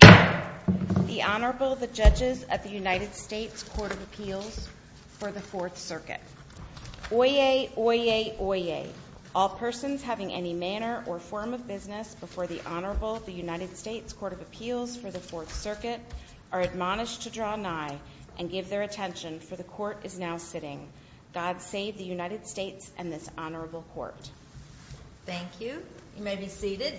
The Honorable, the Judges at the United States Court of Appeals for the Fourth Circuit. Oyez! Oyez! Oyez! All persons having any manner or form of business before the Honorable, the United States Court of Appeals for the Fourth Circuit, are admonished to draw nigh and give their attention, for the Court is now sitting. God save the United States and this Honorable Court. Thank you. You may be seated.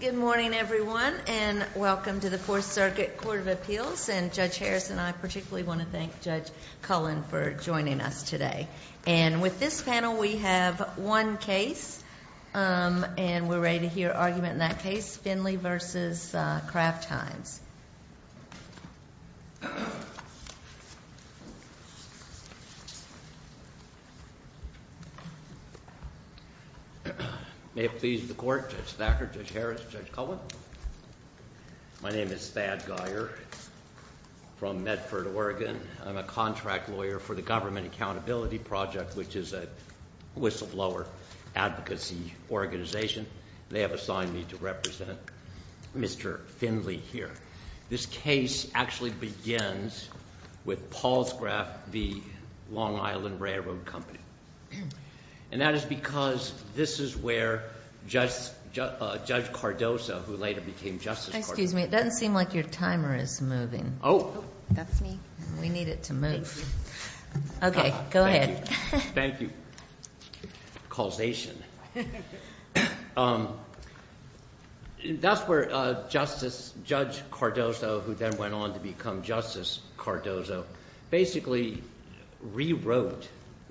Good morning, everyone, and welcome to the Fourth Circuit Court of Appeals. And Judge Harris and I particularly want to thank Judge Cullen for joining us today. And with this panel, we have one case, and we're ready to hear argument in that case, Finley v. Kraft Heinz. May it please the Court, Judge Thacker, Judge Harris, Judge Cullen. My name is Thad Geyer from Medford, Oregon. I'm a contract lawyer for the Government Accountability Project, which is a whistleblower advocacy organization. They have assigned me to represent Mr. Finley here. This case actually begins with Paul's Kraft v. Long Island Railroad Company. And that is because this is where Judge Cardozo, who later became Justice Cardozo. Excuse me. It doesn't seem like your timer is moving. Oh. That's me. We need it to move. Thank you. Okay, go ahead. Thank you. Thank you. Causation. That's where Justice – Judge Cardozo, who then went on to become Justice Cardozo, basically rewrote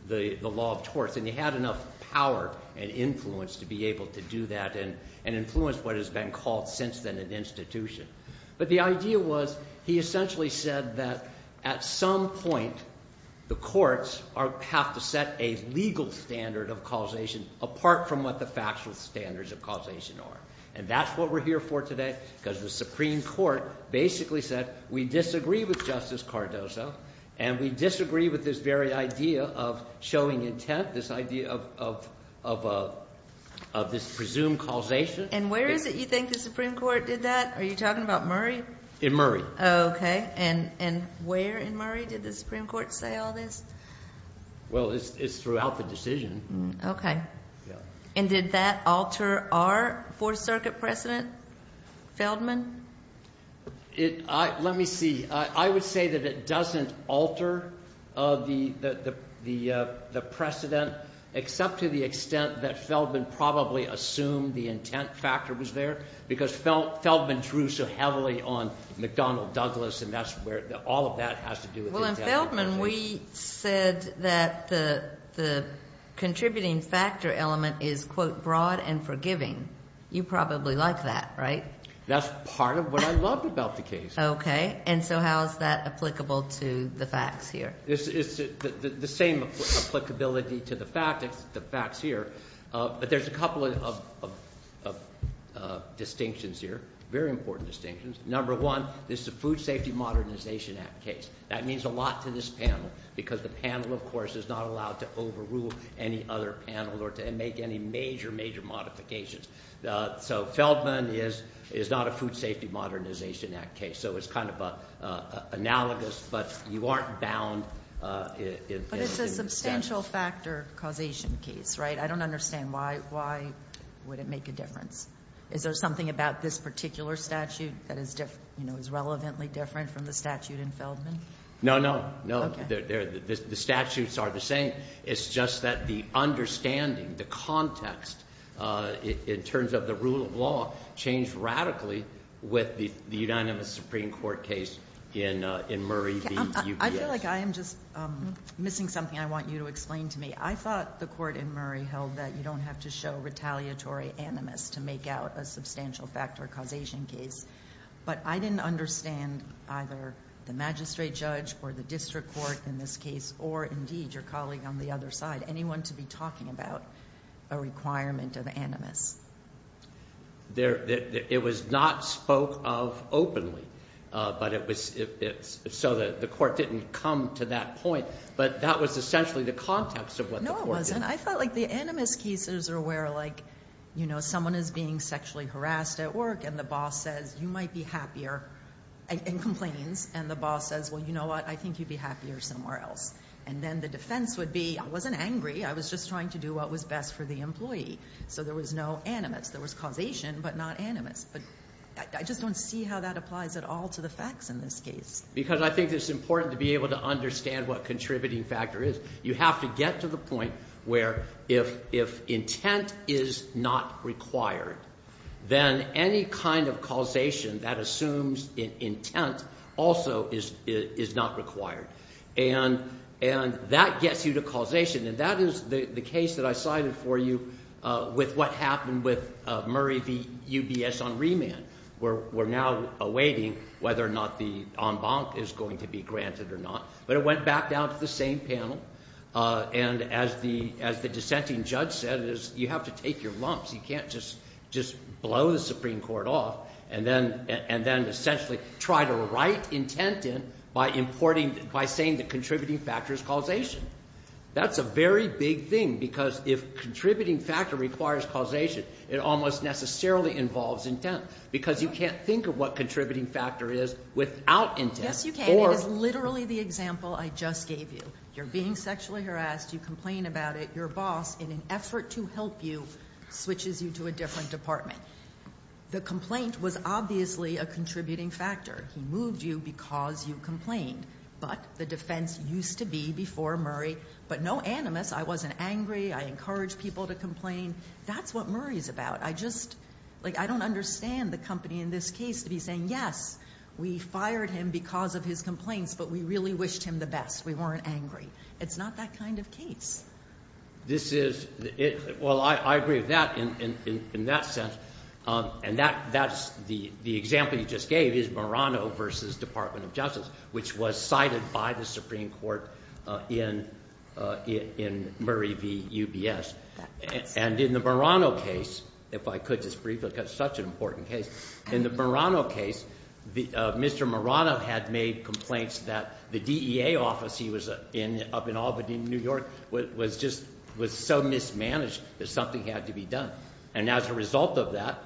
the law of torts. And he had enough power and influence to be able to do that and influence what has been called since then an institution. But the idea was he essentially said that at some point the courts have to set a legal standard of causation apart from what the factual standards of causation are. And that's what we're here for today because the Supreme Court basically said we disagree with Justice Cardozo. And we disagree with this very idea of showing intent, this idea of this presumed causation. And where is it you think the Supreme Court did that? Are you talking about Murray? And where in Murray did the Supreme Court say all this? Well, it's throughout the decision. Okay. Yeah. And did that alter our Fourth Circuit precedent, Feldman? Let me see. I would say that it doesn't alter the precedent except to the extent that Feldman probably assumed the intent factor was there because Feldman drew so heavily on McDonnell Douglas and that's where all of that has to do with intent. Well, in Feldman we said that the contributing factor element is, quote, broad and forgiving. You probably like that, right? That's part of what I love about the case. Okay. And so how is that applicable to the facts here? It's the same applicability to the facts here. But there's a couple of distinctions here, very important distinctions. Number one, this is a Food Safety Modernization Act case. That means a lot to this panel because the panel, of course, is not allowed to overrule any other panel or to make any major, major modifications. So Feldman is not a Food Safety Modernization Act case, so it's kind of analogous, but you aren't bound. But it's a substantial factor causation case, right? I don't understand. Why would it make a difference? Is there something about this particular statute that is relevantly different from the statute in Feldman? No, no. No. The statutes are the same. It's just that the understanding, the context in terms of the rule of law changed radically with the unanimous Supreme Court case in Murray v. UPS. I feel like I am just missing something I want you to explain to me. I thought the court in Murray held that you don't have to show retaliatory animus to make out a substantial factor causation case. But I didn't understand either the magistrate judge or the district court in this case or, indeed, your colleague on the other side, anyone to be talking about a requirement of animus. It was not spoke of openly. So the court didn't come to that point, but that was essentially the context of what the court did. No, it wasn't. I felt like the animus cases are where, like, you know, someone is being sexually harassed at work, and the boss says, you might be happier, and complains, and the boss says, well, you know what, I think you'd be happier somewhere else. And then the defense would be, I wasn't angry. I was just trying to do what was best for the employee. So there was no animus. There was causation, but not animus. But I just don't see how that applies at all to the facts in this case. Because I think it's important to be able to understand what contributing factor is. You have to get to the point where if intent is not required, then any kind of causation that assumes intent also is not required. And that gets you to causation, and that is the case that I cited for you with what happened with Murray v. UBS on remand. We're now awaiting whether or not the en banc is going to be granted or not. But it went back down to the same panel, and as the dissenting judge said, you have to take your lumps. You can't just blow the Supreme Court off and then essentially try to write intent in by saying that contributing factor is causation. That's a very big thing because if contributing factor requires causation, it almost necessarily involves intent because you can't think of what contributing factor is without intent. Yes, you can. It is literally the example I just gave you. You're being sexually harassed. You complain about it. Your boss, in an effort to help you, switches you to a different department. The complaint was obviously a contributing factor. He moved you because you complained. But the defense used to be before Murray, but no animus. I wasn't angry. I encouraged people to complain. That's what Murray's about. I don't understand the company in this case to be saying, yes, we fired him because of his complaints, but we really wished him the best. We weren't angry. It's not that kind of case. Well, I agree with that in that sense. And the example you just gave is Murano v. Department of Justice, which was cited by the Supreme Court in Murray v. UBS. And in the Murano case, if I could just briefly, because it's such an important case. In the Murano case, Mr. Murano had made complaints that the DEA office he was in up in Albany, New York, was just so mismanaged that something had to be done. And as a result of that,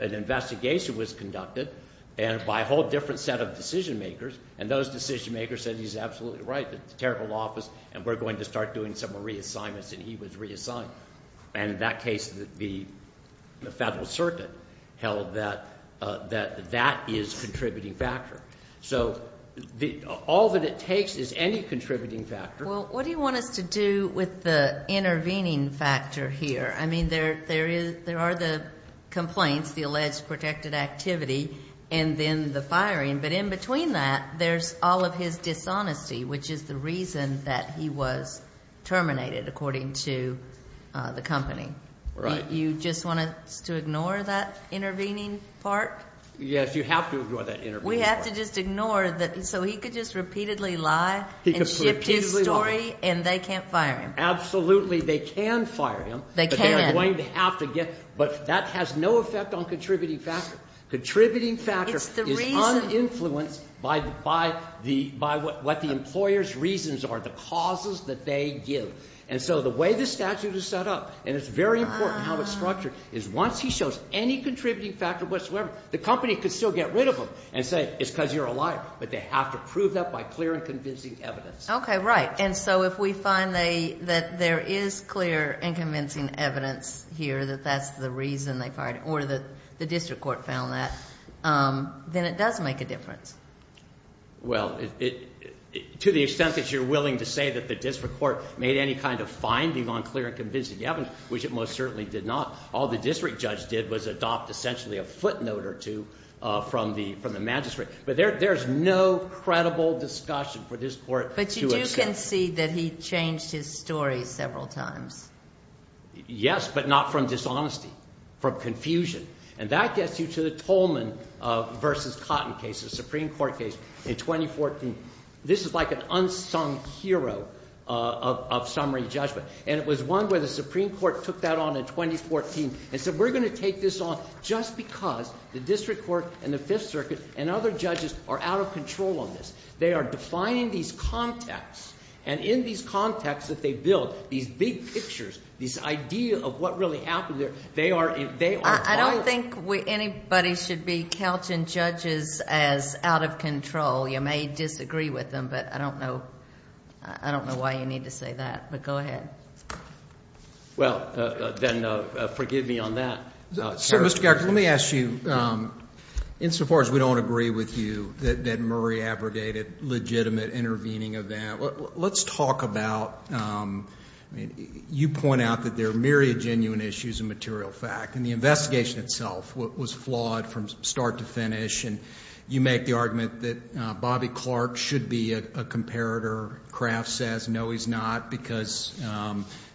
an investigation was conducted by a whole different set of decision makers, and those decision makers said he's absolutely right. It's a terrible office, and we're going to start doing some reassignments, and he was reassigned. And in that case, the Federal Circuit held that that is a contributing factor. So all that it takes is any contributing factor. Well, what do you want us to do with the intervening factor here? I mean, there are the complaints, the alleged protected activity, and then the firing. But in between that, there's all of his dishonesty, which is the reason that he was terminated, according to the company. Right. You just want us to ignore that intervening part? Yes, you have to ignore that intervening part. We have to just ignore that. So he could just repeatedly lie and shift his story, and they can't fire him. Absolutely, they can fire him. They can't. But that has no effect on contributing factor. Contributing factor is uninfluenced by what the employer's reasons are, the causes that they give. And so the way the statute is set up, and it's very important how it's structured, is once he shows any contributing factor whatsoever, the company could still get rid of him and say it's because you're a liar. But they have to prove that by clear and convincing evidence. Okay, right. And so if we find that there is clear and convincing evidence here that that's the reason they fired him, or the district court found that, then it does make a difference. Well, to the extent that you're willing to say that the district court made any kind of finding on clear and convincing evidence, which it most certainly did not, all the district judge did was adopt essentially a footnote or two from the magistrate. But there's no credible discussion for this Court to accept. But you can see that he changed his story several times. Yes, but not from dishonesty, from confusion. And that gets you to the Tolman v. Cotton case, the Supreme Court case in 2014. This is like an unsung hero of summary judgment, and it was one where the Supreme Court took that on in 2014 and said we're going to take this on just because the district court and the Fifth Circuit and other judges are out of control on this. They are defying these contexts, and in these contexts that they build, these big pictures, these ideas of what really happened there, they are violent. I don't think anybody should be couching judges as out of control. You may disagree with them, but I don't know why you need to say that. But go ahead. Well, then forgive me on that. Mr. Garza, let me ask you, insofar as we don't agree with you that Murray abrogated legitimate intervening of that, let's talk about you point out that there are myriad genuine issues of material fact, and the investigation itself was flawed from start to finish, and you make the argument that Bobby Clark should be a comparator. Kraft says no, he's not, because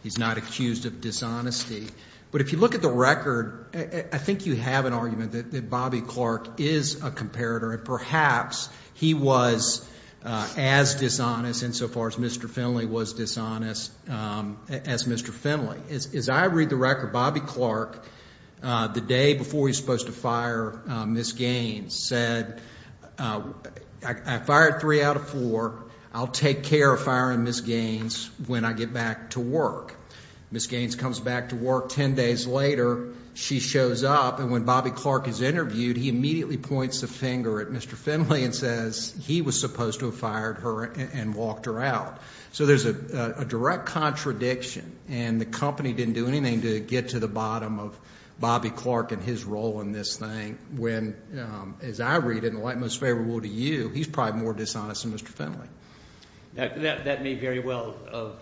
he's not accused of dishonesty. But if you look at the record, I think you have an argument that Bobby Clark is a comparator, and perhaps he was as dishonest insofar as Mr. Finley was dishonest as Mr. Finley. As I read the record, Bobby Clark, the day before he was supposed to fire Ms. Gaines, said I fired three out of four, I'll take care of firing Ms. Gaines when I get back to work. Ms. Gaines comes back to work ten days later. She shows up, and when Bobby Clark is interviewed, he immediately points the finger at Mr. Finley and says he was supposed to have fired her and walked her out. So there's a direct contradiction, and the company didn't do anything to get to the bottom of Bobby Clark and his role in this thing, when, as I read it, and like most favorable to you, he's probably more dishonest than Mr. Finley. That may very well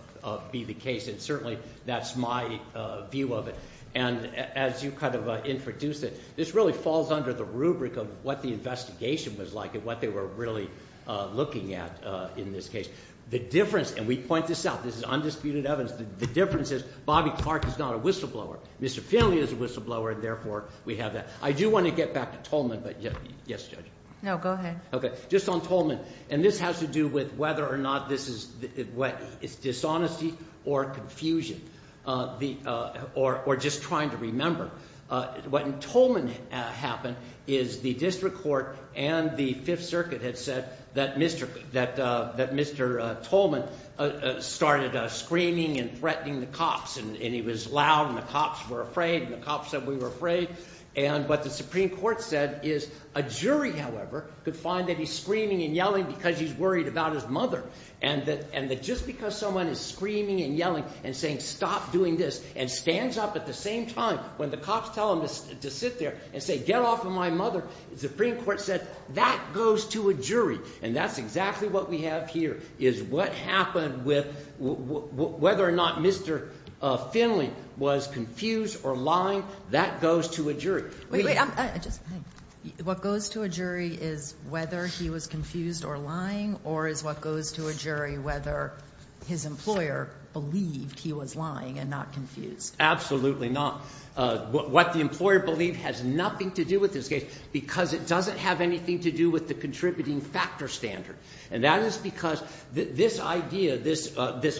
be the case, and certainly that's my view of it. And as you kind of introduced it, this really falls under the rubric of what the investigation was like and what they were really looking at in this case. The difference, and we point this out, this is undisputed evidence, the difference is Bobby Clark is not a whistleblower. Mr. Finley is a whistleblower, and therefore we have that. I do want to get back to Tolman, but yes, Judge? No, go ahead. Okay, just on Tolman, and this has to do with whether or not this is dishonesty or confusion, or just trying to remember. What in Tolman happened is the district court and the Fifth Circuit had said that Mr. Tolman started screaming and threatening the cops, and he was loud, and the cops were afraid, and the cops said we were afraid. And what the Supreme Court said is a jury, however, could find that he's screaming and yelling because he's worried about his mother, and that just because someone is screaming and yelling and saying stop doing this and stands up at the same time when the cops tell him to sit there and say get off of my mother, the Supreme Court said that goes to a jury, and that's exactly what we have here is what happened with whether or not Mr. Finley was confused or lying, that goes to a jury. Wait. What goes to a jury is whether he was confused or lying, or is what goes to a jury whether his employer believed he was lying and not confused? Absolutely not. What the employer believed has nothing to do with this case, because it doesn't have anything to do with the contributing factor standard, and that is because this idea, this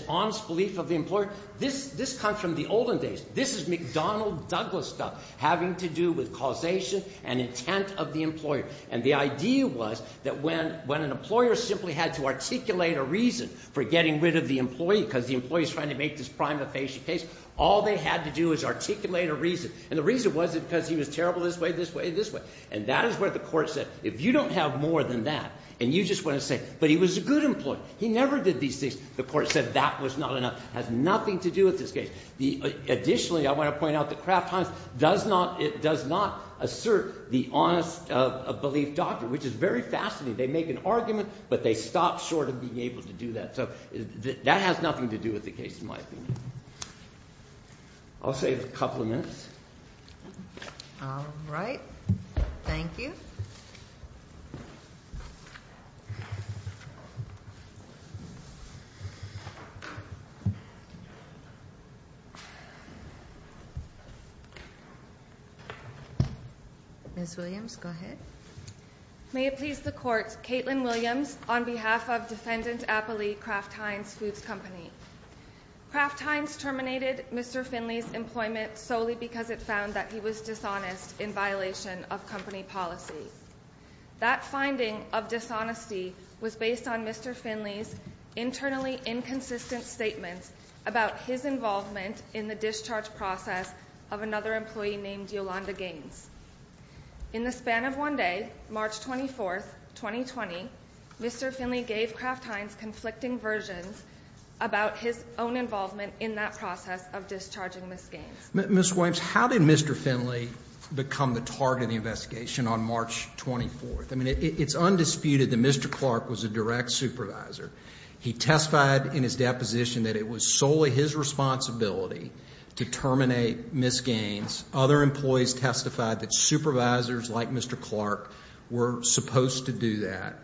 honest belief of the employer, this comes from the olden days. This is McDonnell Douglas stuff, having to do with causation and intent of the employer. And the idea was that when an employer simply had to articulate a reason for getting rid of the employee because the employee is trying to make this prima facie case, all they had to do was articulate a reason. And the reason was because he was terrible this way, this way, this way. And that is where the court said if you don't have more than that and you just want to say but he was a good employee, he never did these things, the court said that was not enough. It has nothing to do with this case. Additionally, I want to point out that Kraft Hines does not assert the honest belief doctrine, which is very fascinating. They make an argument, but they stop short of being able to do that. So that has nothing to do with the case in my opinion. I'll save a couple of minutes. All right. Thank you. Ms. Williams, go ahead. May it please the Court, Kaitlin Williams on behalf of Defendant Appley Kraft Hines Foods Company. Kraft Hines terminated Mr. Finley's employment solely because it found that he was dishonest in violation of company policy. That finding of dishonesty was based on Mr. Finley's internally inconsistent statements about his involvement in the discharge process of another employee named Yolanda Gaines. In the span of one day, March 24, 2020, Mr. Finley gave Kraft Hines conflicting versions about his own involvement in that process of discharging Ms. Gaines. Ms. Williams, how did Mr. Finley become the target of the investigation on March 24? I mean, it's undisputed that Mr. Clark was a direct supervisor. He testified in his deposition that it was solely his responsibility to terminate Ms. Gaines. Other employees testified that supervisors like Mr. Clark were supposed to do that.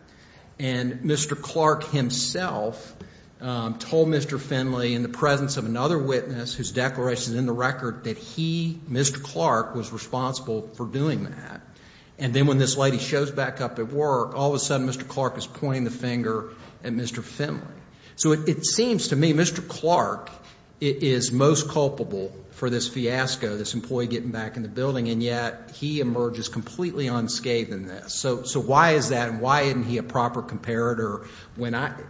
And Mr. Clark himself told Mr. Finley in the presence of another witness whose declaration is in the record that he, Mr. Clark, was responsible for doing that. And then when this lady shows back up at work, all of a sudden Mr. Clark is pointing the finger at Mr. Finley. So it seems to me Mr. Clark is most culpable for this fiasco, this employee getting back in the building, and yet he emerges completely unscathed in this. So why is that and why isn't he a proper comparator?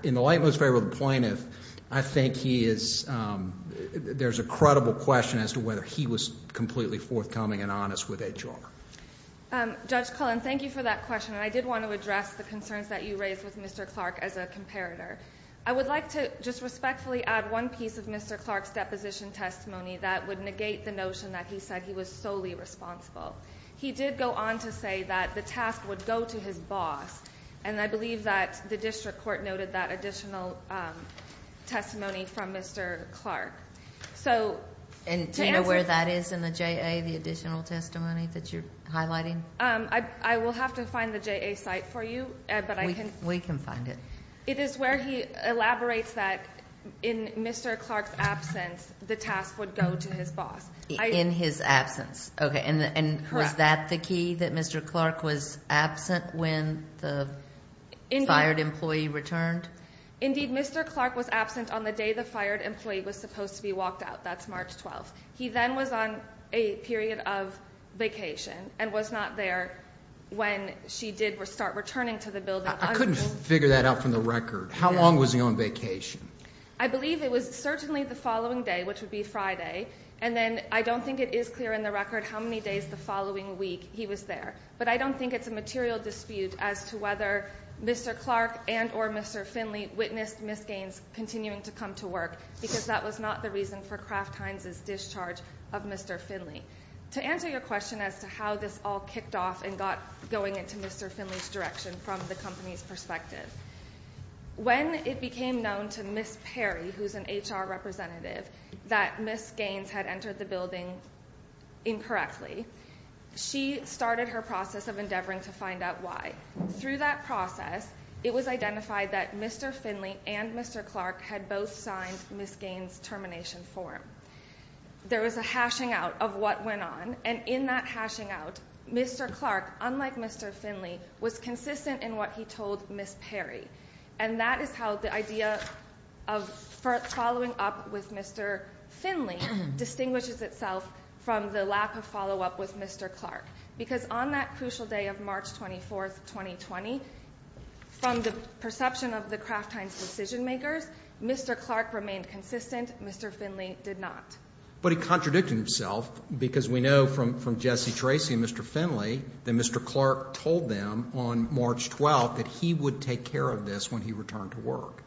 In the light most favorable of the plaintiff, I think he is, there's a credible question as to whether he was completely forthcoming and honest with HR. Judge Cullen, thank you for that question. And I did want to address the concerns that you raised with Mr. Clark as a comparator. I would like to just respectfully add one piece of Mr. Clark's deposition testimony that would negate the notion that he said he was solely responsible. He did go on to say that the task would go to his boss, and I believe that the district court noted that additional testimony from Mr. Clark. And do you know where that is in the JA, the additional testimony that you're highlighting? I will have to find the JA site for you. We can find it. It is where he elaborates that in Mr. Clark's absence the task would go to his boss. In his absence. Okay, and was that the key, that Mr. Clark was absent when the fired employee returned? Indeed, Mr. Clark was absent on the day the fired employee was supposed to be walked out. That's March 12th. He then was on a period of vacation and was not there when she did start returning to the building. I couldn't figure that out from the record. How long was he on vacation? I believe it was certainly the following day, which would be Friday. And then I don't think it is clear in the record how many days the following week he was there. But I don't think it's a material dispute as to whether Mr. Clark and or Mr. Finley witnessed Miss Gaines continuing to come to work, because that was not the reason for Kraft Heinz's discharge of Mr. Finley. To answer your question as to how this all kicked off and got going into Mr. Finley's direction from the company's perspective, when it became known to Miss Perry, who's an HR representative, that Miss Gaines had entered the building incorrectly, she started her process of endeavoring to find out why. Through that process, it was identified that Mr. Finley and Mr. Clark had both signed Miss Gaines's termination form. There was a hashing out of what went on, and in that hashing out, Mr. Clark, unlike Mr. Finley, was consistent in what he told Miss Perry. And that is how the idea of following up with Mr. Finley distinguishes itself from the lack of follow-up with Mr. Clark. Because on that crucial day of March 24, 2020, from the perception of the Kraft Heinz decision-makers, Mr. Clark remained consistent, Mr. Finley did not. But he contradicted himself because we know from Jesse Tracy and Mr. Finley that Mr. Clark told them on March 12th that he would take care of this when he returned to work.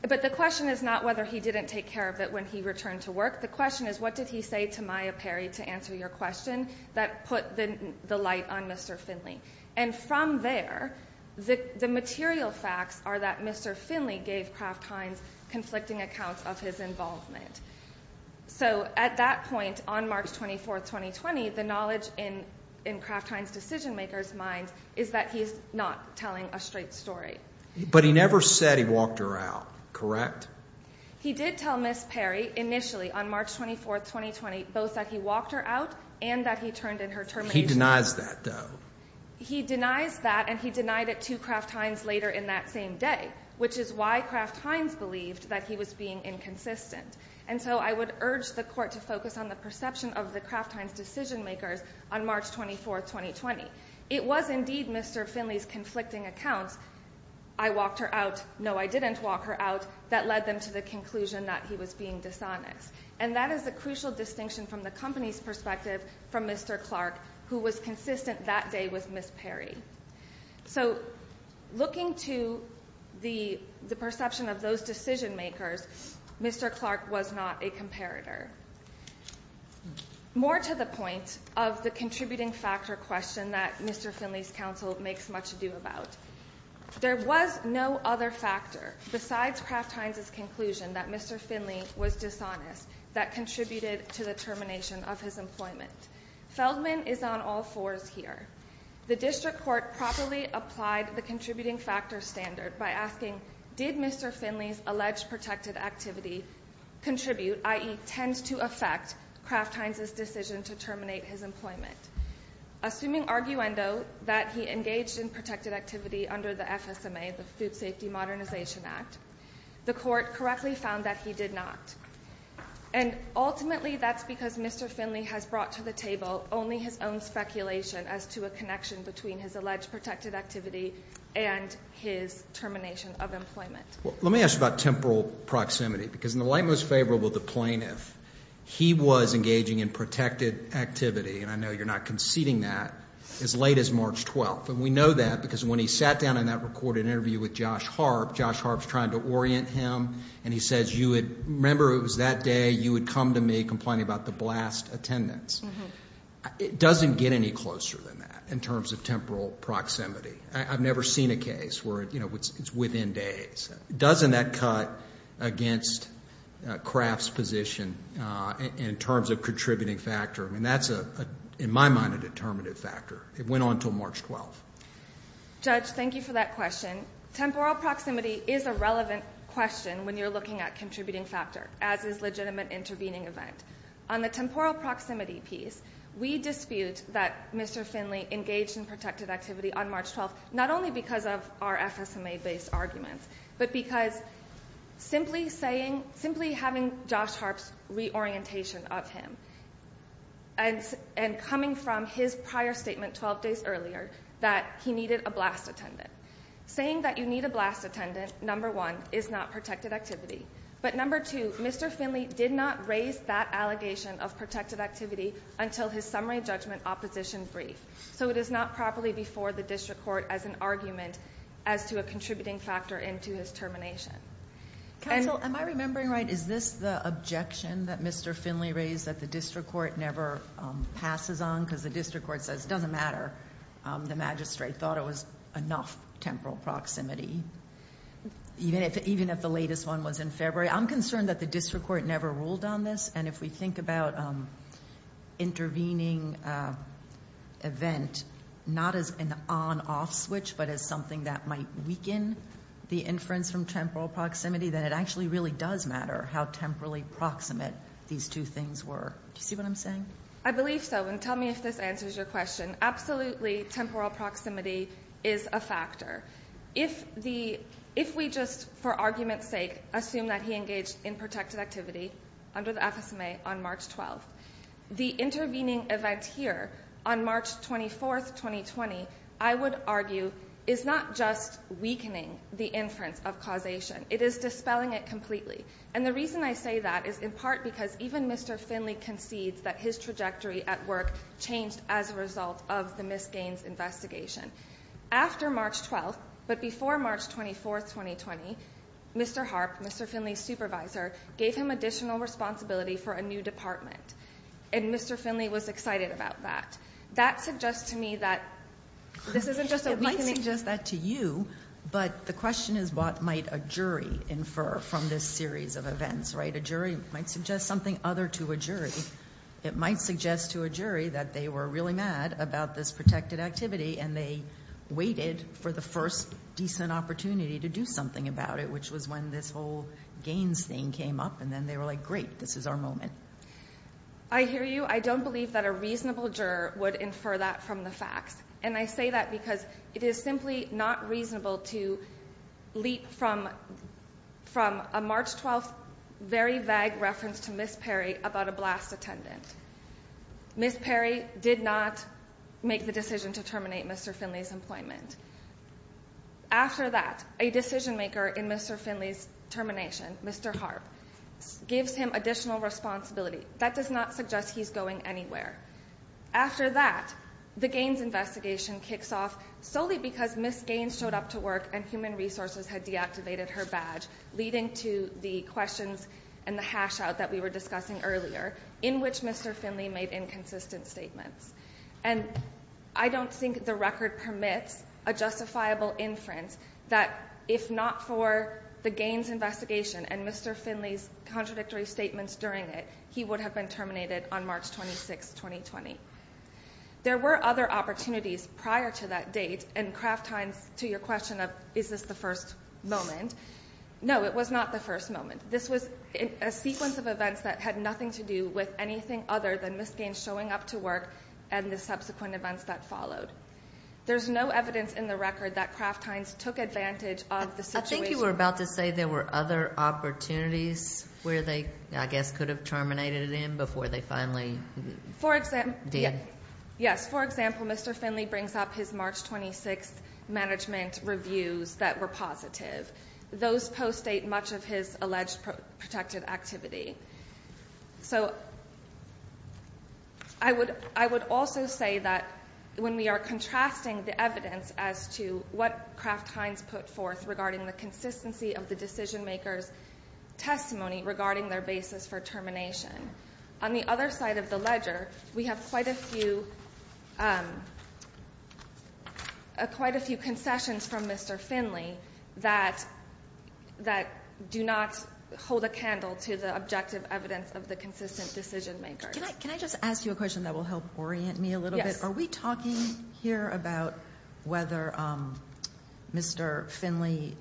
But the question is not whether he didn't take care of it when he returned to work. The question is what did he say to Maya Perry, to answer your question, that put the light on Mr. Finley? And from there, the material facts are that Mr. Finley gave Kraft Heinz conflicting accounts of his involvement. So at that point, on March 24, 2020, the knowledge in Kraft Heinz's decision-maker's mind is that he's not telling a straight story. But he never said he walked her out, correct? He did tell Miss Perry initially on March 24, 2020, both that he walked her out and that he turned in her termination. He denies that, though. He denies that, and he denied it to Kraft Heinz later in that same day, which is why Kraft Heinz believed that he was being inconsistent. And so I would urge the Court to focus on the perception of the Kraft Heinz decision-makers on March 24, 2020. It was indeed Mr. Finley's conflicting accounts, I walked her out, no, I didn't walk her out, that led them to the conclusion that he was being dishonest. And that is a crucial distinction from the company's perspective from Mr. Clark, who was consistent that day with Miss Perry. So looking to the perception of those decision-makers, Mr. Clark was not a comparator. More to the point of the contributing factor question that Mr. Finley's counsel makes much ado about. There was no other factor besides Kraft Heinz's conclusion that Mr. Finley was dishonest that contributed to the termination of his employment. Feldman is on all fours here. The District Court properly applied the contributing factor standard by asking, did Mr. Finley's alleged protected activity contribute, i.e., tend to affect Kraft Heinz's decision to terminate his employment? Assuming arguendo that he engaged in protected activity under the FSMA, the Food Safety Modernization Act, the Court correctly found that he did not. And ultimately that's because Mr. Finley has brought to the table only his own speculation as to a connection between his alleged protected activity and his termination of employment. Let me ask about temporal proximity, because in the light most favorable of the plaintiff, he was engaging in protected activity, and I know you're not conceding that, as late as March 12th. And we know that because when he sat down in that recorded interview with Josh Harp, Josh Harp's trying to orient him, and he says, remember it was that day you had come to me complaining about the blast attendance. It doesn't get any closer than that in terms of temporal proximity. I've never seen a case where it's within days. Doesn't that cut against Kraft's position in terms of contributing factor? I mean, that's, in my mind, a determinative factor. It went on until March 12th. Judge, thank you for that question. Temporal proximity is a relevant question when you're looking at contributing factor, as is legitimate intervening event. On the temporal proximity piece, we dispute that Mr. Finley engaged in protected activity on March 12th, not only because of our FSMA-based arguments, but because simply having Josh Harp's reorientation of him and coming from his prior statement 12 days earlier that he needed a blast attendant, saying that you need a blast attendant, number one, is not protected activity. But number two, Mr. Finley did not raise that allegation of protected activity until his summary judgment opposition brief. So it is not properly before the district court as an argument as to a contributing factor into his termination. Counsel, am I remembering right? Is this the objection that Mr. Finley raised that the district court never passes on because the district court says it doesn't matter, the magistrate thought it was enough temporal proximity, even if the latest one was in February? I'm concerned that the district court never ruled on this, and if we think about intervening event not as an on-off switch, but as something that might weaken the inference from temporal proximity, then it actually really does matter how temporally proximate these two things were. Do you see what I'm saying? I believe so, and tell me if this answers your question. Absolutely temporal proximity is a factor. If we just, for argument's sake, assume that he engaged in protected activity under the FSMA on March 12th, the intervening event here on March 24th, 2020, I would argue, is not just weakening the inference of causation. It is dispelling it completely. And the reason I say that is in part because even Mr. Finley concedes that his trajectory at work changed as a result of the Miss Gaines investigation. After March 12th, but before March 24th, 2020, Mr. Harp, Mr. Finley's supervisor, gave him additional responsibility for a new department, and Mr. Finley was excited about that. That suggests to me that this isn't just a weakening. I suggest that to you, but the question is what might a jury infer from this series of events, right? A jury might suggest something other to a jury. It might suggest to a jury that they were really mad about this protected activity and they waited for the first decent opportunity to do something about it, which was when this whole Gaines thing came up, and then they were like, great, this is our moment. I hear you. I don't believe that a reasonable juror would infer that from the facts. And I say that because it is simply not reasonable to leap from a March 12th, very vague reference to Miss Perry about a blast attendant. Miss Perry did not make the decision to terminate Mr. Finley's employment. After that, a decision maker in Mr. Finley's termination, Mr. Harp, gives him additional responsibility. That does not suggest he's going anywhere. After that, the Gaines investigation kicks off solely because Miss Gaines showed up to work and Human Resources had deactivated her badge, leading to the questions and the hash out that we were discussing earlier, in which Mr. Finley made inconsistent statements. And I don't think the record permits a justifiable inference that if not for the Gaines investigation and Mr. Finley's contradictory statements during it, he would have been terminated on March 26th, 2020. There were other opportunities prior to that date, and Kraft Heinz, to your question of is this the first moment, no, it was not the first moment. This was a sequence of events that had nothing to do with anything other than Miss Gaines showing up to work and the subsequent events that followed. There's no evidence in the record that Kraft Heinz took advantage of the situation. You were about to say there were other opportunities where they, I guess, could have terminated him before they finally did. Yes. For example, Mr. Finley brings up his March 26th management reviews that were positive. Those post-date much of his alleged protective activity. So I would also say that when we are contrasting the evidence as to what Kraft Heinz put forth regarding the consistency of the decision-makers' testimony regarding their basis for termination, on the other side of the ledger we have quite a few concessions from Mr. Finley that do not hold a candle to the objective evidence of the consistent decision-makers. Can I just ask you a question that will help orient me a little bit? Yes. Are we talking here about whether Mr. Finley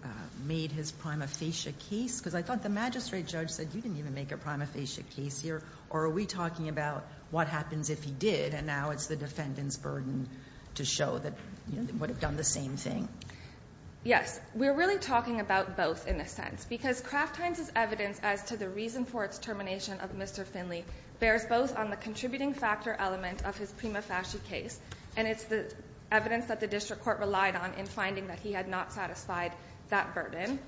made his prima facie case? Because I thought the magistrate judge said you didn't even make a prima facie case here. Or are we talking about what happens if he did, and now it's the defendant's burden to show that he would have done the same thing? Yes. We're really talking about both in a sense because Kraft Heinz's evidence as to the reason for its termination of Mr. Finley bears both on the contributing factor element of his prima facie case, and it's the evidence that the district court relied on in finding that he had not satisfied that burden.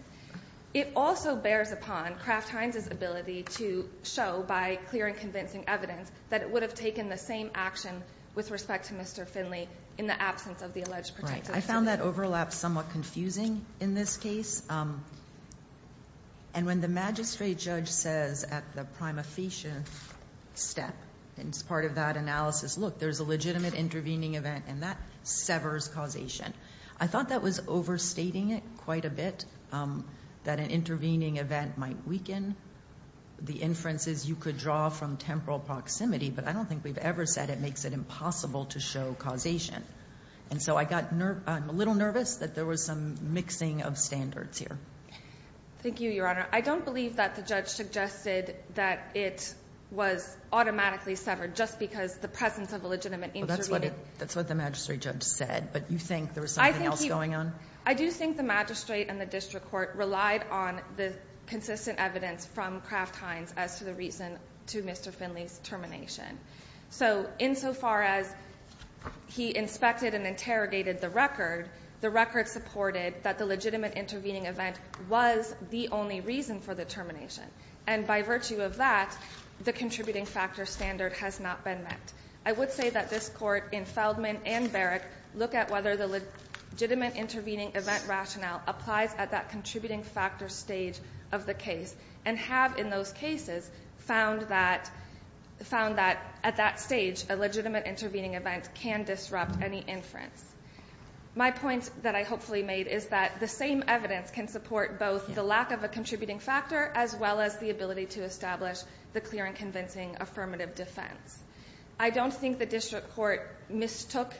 It also bears upon Kraft Heinz's ability to show by clear and convincing evidence that it would have taken the same action with respect to Mr. Finley in the absence of the alleged protective activity. I found that overlap somewhat confusing in this case. And when the magistrate judge says at the prima facie step, and it's part of that analysis, look, there's a legitimate intervening event, and that severs causation. I thought that was overstating it quite a bit, that an intervening event might weaken the inferences you could draw from temporal proximity, but I don't think we've ever said it makes it impossible to show causation. And so I got a little nervous that there was some mixing of standards here. Thank you, Your Honor. I don't believe that the judge suggested that it was automatically severed just because the presence of a legitimate intervening. Well, that's what the magistrate judge said, but you think there was something else going on? I do think the magistrate and the district court relied on the consistent evidence from Kraft Heinz as to the reason to Mr. Finley's termination. So insofar as he inspected and interrogated the record, the record supported that the legitimate intervening event was the only reason for the termination. And by virtue of that, the contributing factor standard has not been met. I would say that this Court in Feldman and Berrick look at whether the legitimate intervening event rationale applies at that contributing factor stage of the case, and have in those cases found that at that stage, a legitimate intervening event can disrupt any inference. My point that I hopefully made is that the same evidence can support both the lack of a contributing factor as well as the ability to establish the clear and convincing affirmative defense. I don't think the district court mistook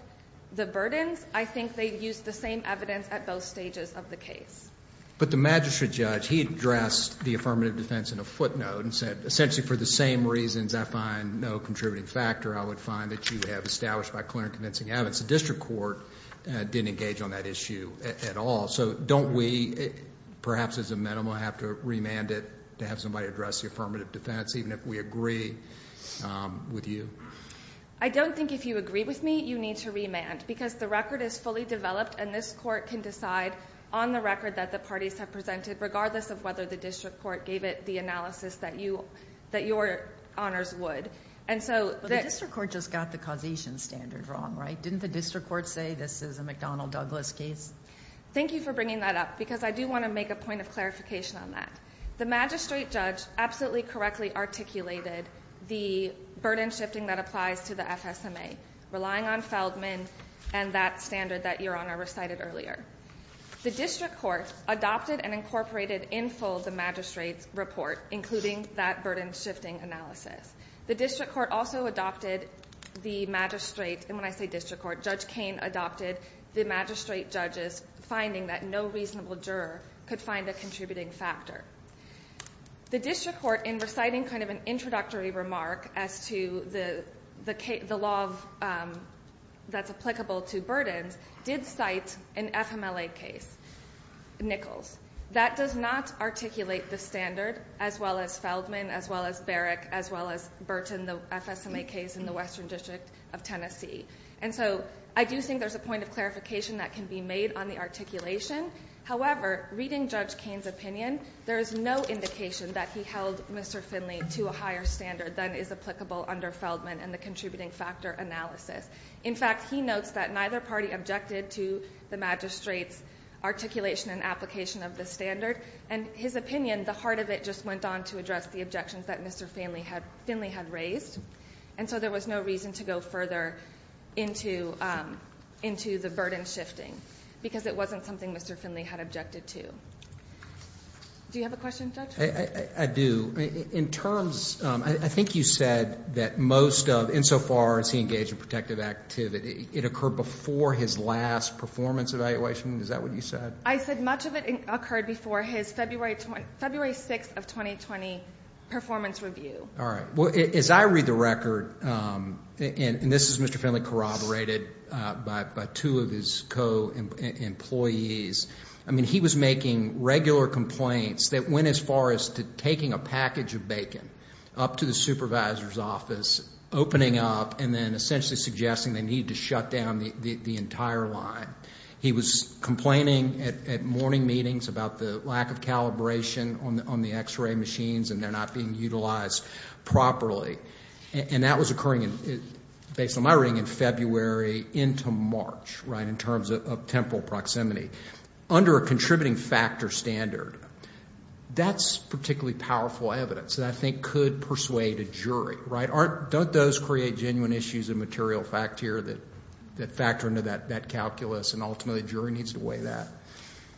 the burdens. I think they used the same evidence at both stages of the case. But the magistrate judge, he addressed the affirmative defense in a footnote and said essentially for the same reasons I find no contributing factor, I would find that you have established by clear and convincing evidence. The district court didn't engage on that issue at all. So don't we perhaps as a minimum have to remand it to have somebody address the affirmative defense, even if we agree with you? I don't think if you agree with me, you need to remand, because the record is fully developed and this court can decide on the record that the parties have presented, regardless of whether the district court gave it the analysis that your honors would. The district court just got the causation standard wrong, right? Didn't the district court say this is a McDonnell Douglas case? Thank you for bringing that up, because I do want to make a point of clarification on that. The magistrate judge absolutely correctly articulated the burden shifting that applies to the FSMA, relying on Feldman and that standard that your honor recited earlier. The district court adopted and incorporated in full the magistrate's report, including that burden shifting analysis. The district court also adopted the magistrate, and when I say district court, Judge Cain adopted the magistrate judge's finding that no reasonable juror could find a contributing factor. The district court, in reciting kind of an introductory remark as to the law that's applicable to burdens, did cite an FMLA case, Nichols. That does not articulate the standard, as well as Feldman, as well as Berrick, as well as Burton, the FSMA case in the Western District of Tennessee. And so I do think there's a point of clarification that can be made on the articulation. However, reading Judge Cain's opinion, there is no indication that he held Mr. Finley to a higher standard than is applicable under Feldman and the contributing factor analysis. In fact, he notes that neither party objected to the magistrate's articulation and application of the standard, and his opinion, the heart of it, just went on to address the objections that Mr. Finley had raised. And so there was no reason to go further into the burden shifting, because it wasn't something Mr. Finley had objected to. Do you have a question, Judge? I do. In terms, I think you said that most of, insofar as he engaged in protective activity, it occurred before his last performance evaluation. Is that what you said? I said much of it occurred before his February 6th of 2020 performance review. All right. Well, as I read the record, and this is Mr. Finley corroborated by two of his co-employees, I mean, he was making regular complaints that went as far as to taking a package of bacon up to the supervisor's office, opening up, and then essentially suggesting they needed to shut down the entire line. He was complaining at morning meetings about the lack of calibration on the X-ray machines and they're not being utilized properly. And that was occurring, based on my reading, in February into March, right, in terms of temporal proximity. Under a contributing factor standard, that's particularly powerful evidence that I think could persuade a jury, right? Don't those create genuine issues of material fact here that factor into that calculus, and ultimately a jury needs to weigh that?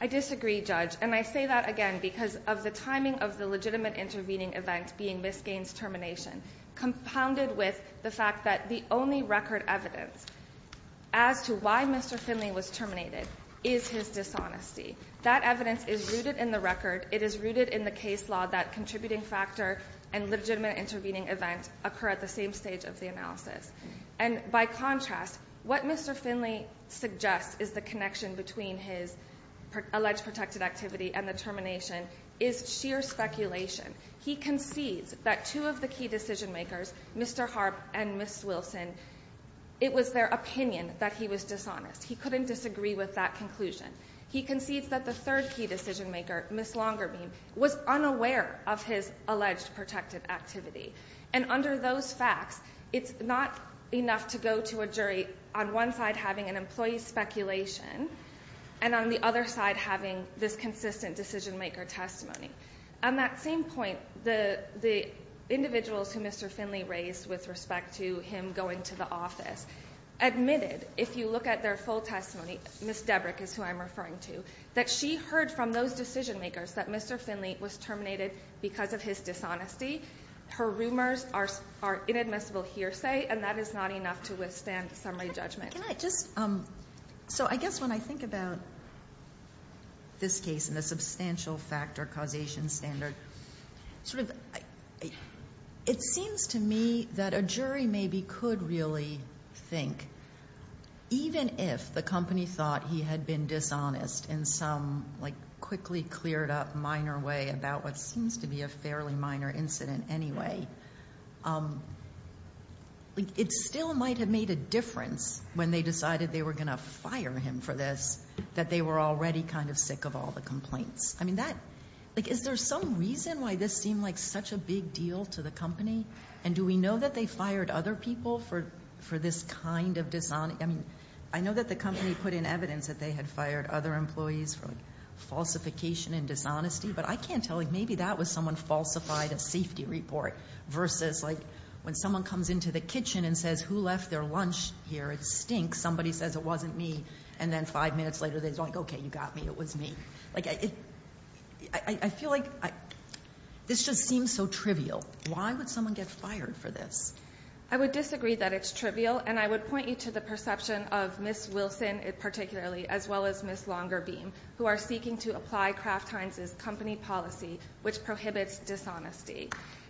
I disagree, Judge. And I say that, again, because of the timing of the legitimate intervening event being Miss Gaines' termination, compounded with the fact that the only record evidence as to why Mr. Finley was terminated is his dishonesty. That evidence is rooted in the record. It is rooted in the case law that contributing factor and legitimate intervening event occur at the same stage of the analysis. And by contrast, what Mr. Finley suggests is the connection between his alleged protected activity and the termination is sheer speculation. He concedes that two of the key decision makers, Mr. Harp and Miss Wilson, it was their opinion that he was dishonest. He couldn't disagree with that conclusion. He concedes that the third key decision maker, Miss Longerbeam, was unaware of his alleged protected activity. And under those facts, it's not enough to go to a jury on one side having an employee's speculation and on the other side having this consistent decision maker testimony. On that same point, the individuals who Mr. Finley raised with respect to him going to the office admitted, if you look at their full testimony, Miss Debrick is who I'm referring to, that she heard from those decision makers that Mr. Finley was terminated because of his dishonesty. Her rumors are inadmissible hearsay, and that is not enough to withstand summary judgment. So I guess when I think about this case and the substantial factor causation standard, it seems to me that a jury maybe could really think, even if the company thought he had been dishonest in some quickly cleared up minor way about what seems to be a fairly minor incident anyway, it still might have made a difference when they decided they were going to fire him for this, that they were already kind of sick of all the complaints. I mean, is there some reason why this seemed like such a big deal to the company? And do we know that they fired other people for this kind of dishonesty? I mean, I know that the company put in evidence that they had fired other employees for falsification and dishonesty. But I can't tell, maybe that was someone falsified a safety report versus when someone comes into the kitchen and says, who left their lunch here? It stinks. Somebody says it wasn't me. And then five minutes later, they're like, okay, you got me. It was me. I feel like this just seems so trivial. Why would someone get fired for this? I would disagree that it's trivial. And I would point you to the perception of Ms. Wilson particularly, as well as Ms. Longerbeam, who are seeking to apply Kraft Heinz's company policy, which prohibits dishonesty.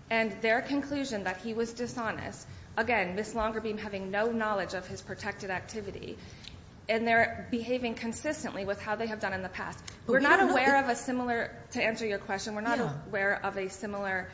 And their conclusion that he was dishonest, again, Ms. Longerbeam having no knowledge of his protected activity, and they're behaving consistently with how they have done in the past. We're not aware of a similar, to answer your question, we're not aware of a similar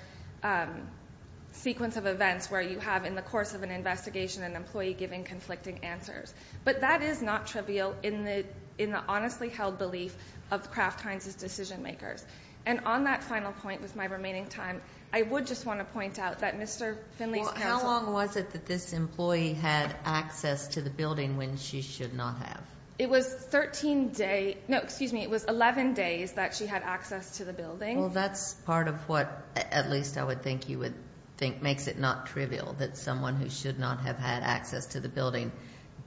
sequence of events where you have, in the course of an investigation, an employee giving conflicting answers. But that is not trivial in the honestly held belief of Kraft Heinz's decision makers. And on that final point with my remaining time, I would just want to point out that Mr. Finley's parents- Well, how long was it that this employee had access to the building when she should not have? It was 13 days, no, excuse me, it was 11 days that she had access to the building. Well, that's part of what, at least I would think you would think, makes it not trivial, that someone who should not have had access to the building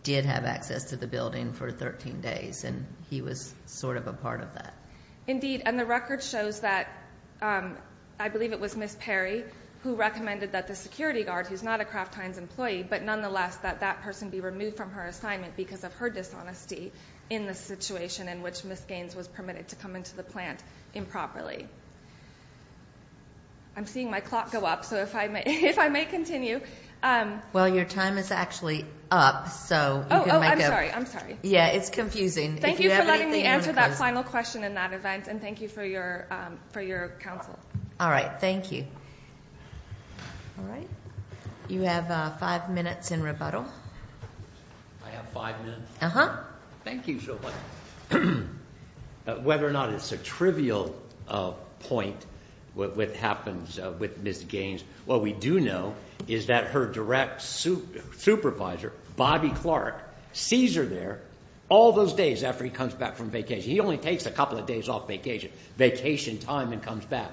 did have access to the building for 13 days, and he was sort of a part of that. Indeed, and the record shows that, I believe it was Ms. Perry who recommended that the security guard, who's not a Kraft Heinz employee, but nonetheless that that person be removed from her assignment because of her dishonesty in the situation in which Ms. Gaines was permitted to come into the plant improperly. I'm seeing my clock go up, so if I may continue. Well, your time is actually up, so you can make a- Oh, I'm sorry, I'm sorry. Yeah, it's confusing. Thank you for letting me answer that final question in that event, and thank you for your counsel. All right, thank you. All right. You have five minutes in rebuttal. I have five minutes? Thank you so much. Whether or not it's a trivial point, what happens with Ms. Gaines, what we do know is that her direct supervisor, Bobby Clark, sees her there all those days after he comes back from vacation. He only takes a couple of days off vacation, vacation time, and comes back.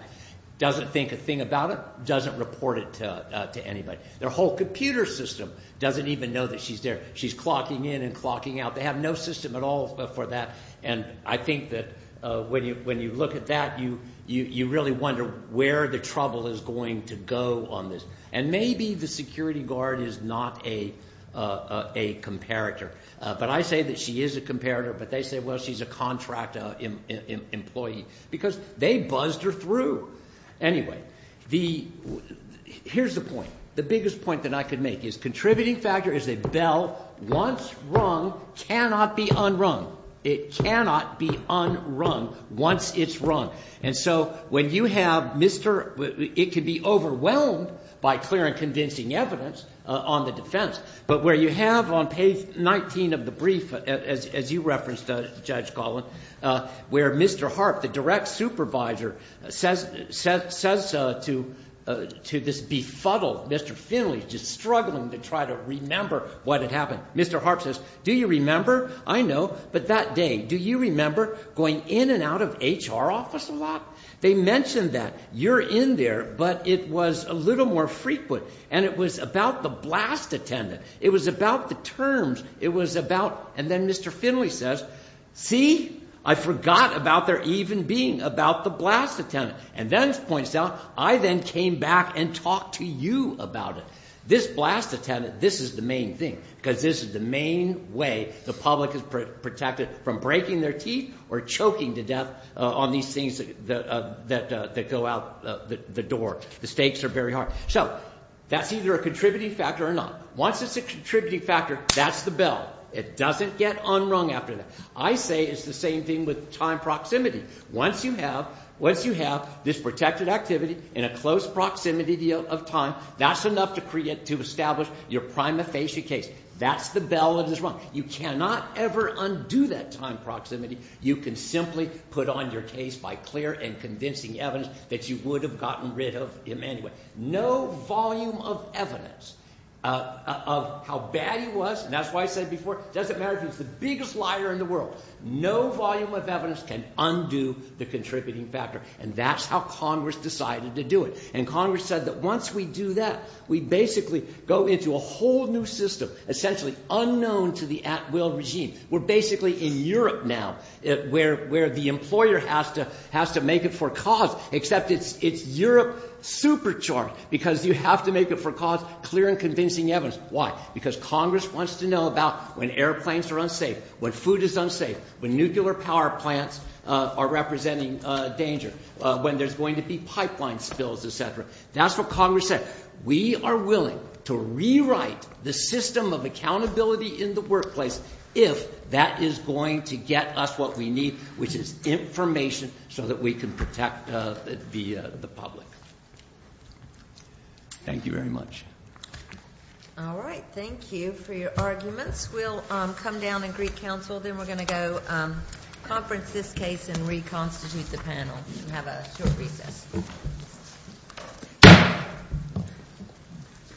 Doesn't think a thing about it, doesn't report it to anybody. Their whole computer system doesn't even know that she's there. She's clocking in and clocking out. They have no system at all for that, and I think that when you look at that, you really wonder where the trouble is going to go on this. And maybe the security guard is not a comparator, but I say that she is a comparator, but they say, well, she's a contract employee because they buzzed her through. Anyway, here's the point. The biggest point that I could make is contributing factor is a bell once rung cannot be unrung. It cannot be unrung once it's rung. And so when you have Mr. It could be overwhelmed by clear and convincing evidence on the defense, but where you have on page 19 of the brief, as you referenced, Judge Golan, where Mr. Harp, the direct supervisor, says to this befuddled Mr. Finley, just struggling to try to remember what had happened. Mr. Harp says, do you remember? I know, but that day, do you remember going in and out of HR office a lot? They mentioned that. You're in there, but it was a little more frequent, and it was about the blast attendant. It was about the terms. It was about. And then Mr. Finley says, see, I forgot about there even being about the blast attendant. And then points out, I then came back and talked to you about it. This blast attendant, this is the main thing because this is the main way the public is protected from breaking their teeth or choking to death on these things that go out the door. The stakes are very high. So that's either a contributing factor or not. Once it's a contributing factor, that's the bell. It doesn't get unrung after that. I say it's the same thing with time proximity. Once you have this protected activity in a close proximity of time, that's enough to establish your prima facie case. That's the bell that is rung. You cannot ever undo that time proximity. You can simply put on your case by clear and convincing evidence that you would have gotten rid of him anyway. No volume of evidence of how bad he was, and that's why I said before, doesn't matter if he's the biggest liar in the world. No volume of evidence can undo the contributing factor. And that's how Congress decided to do it. And Congress said that once we do that, we basically go into a whole new system, essentially unknown to the at-will regime. We're basically in Europe now where the employer has to make it for cause, except it's Europe supercharged because you have to make it for cause, clear and convincing evidence. Why? Because Congress wants to know about when airplanes are unsafe, when food is unsafe, when nuclear power plants are representing danger, when there's going to be pipeline spills, et cetera. That's what Congress said. We are willing to rewrite the system of accountability in the workplace if that is going to get us what we need, which is information so that we can protect the public. Thank you very much. All right. Thank you for your arguments. We'll come down and greet counsel. Then we're going to go conference this case and reconstitute the panel and have a short recess.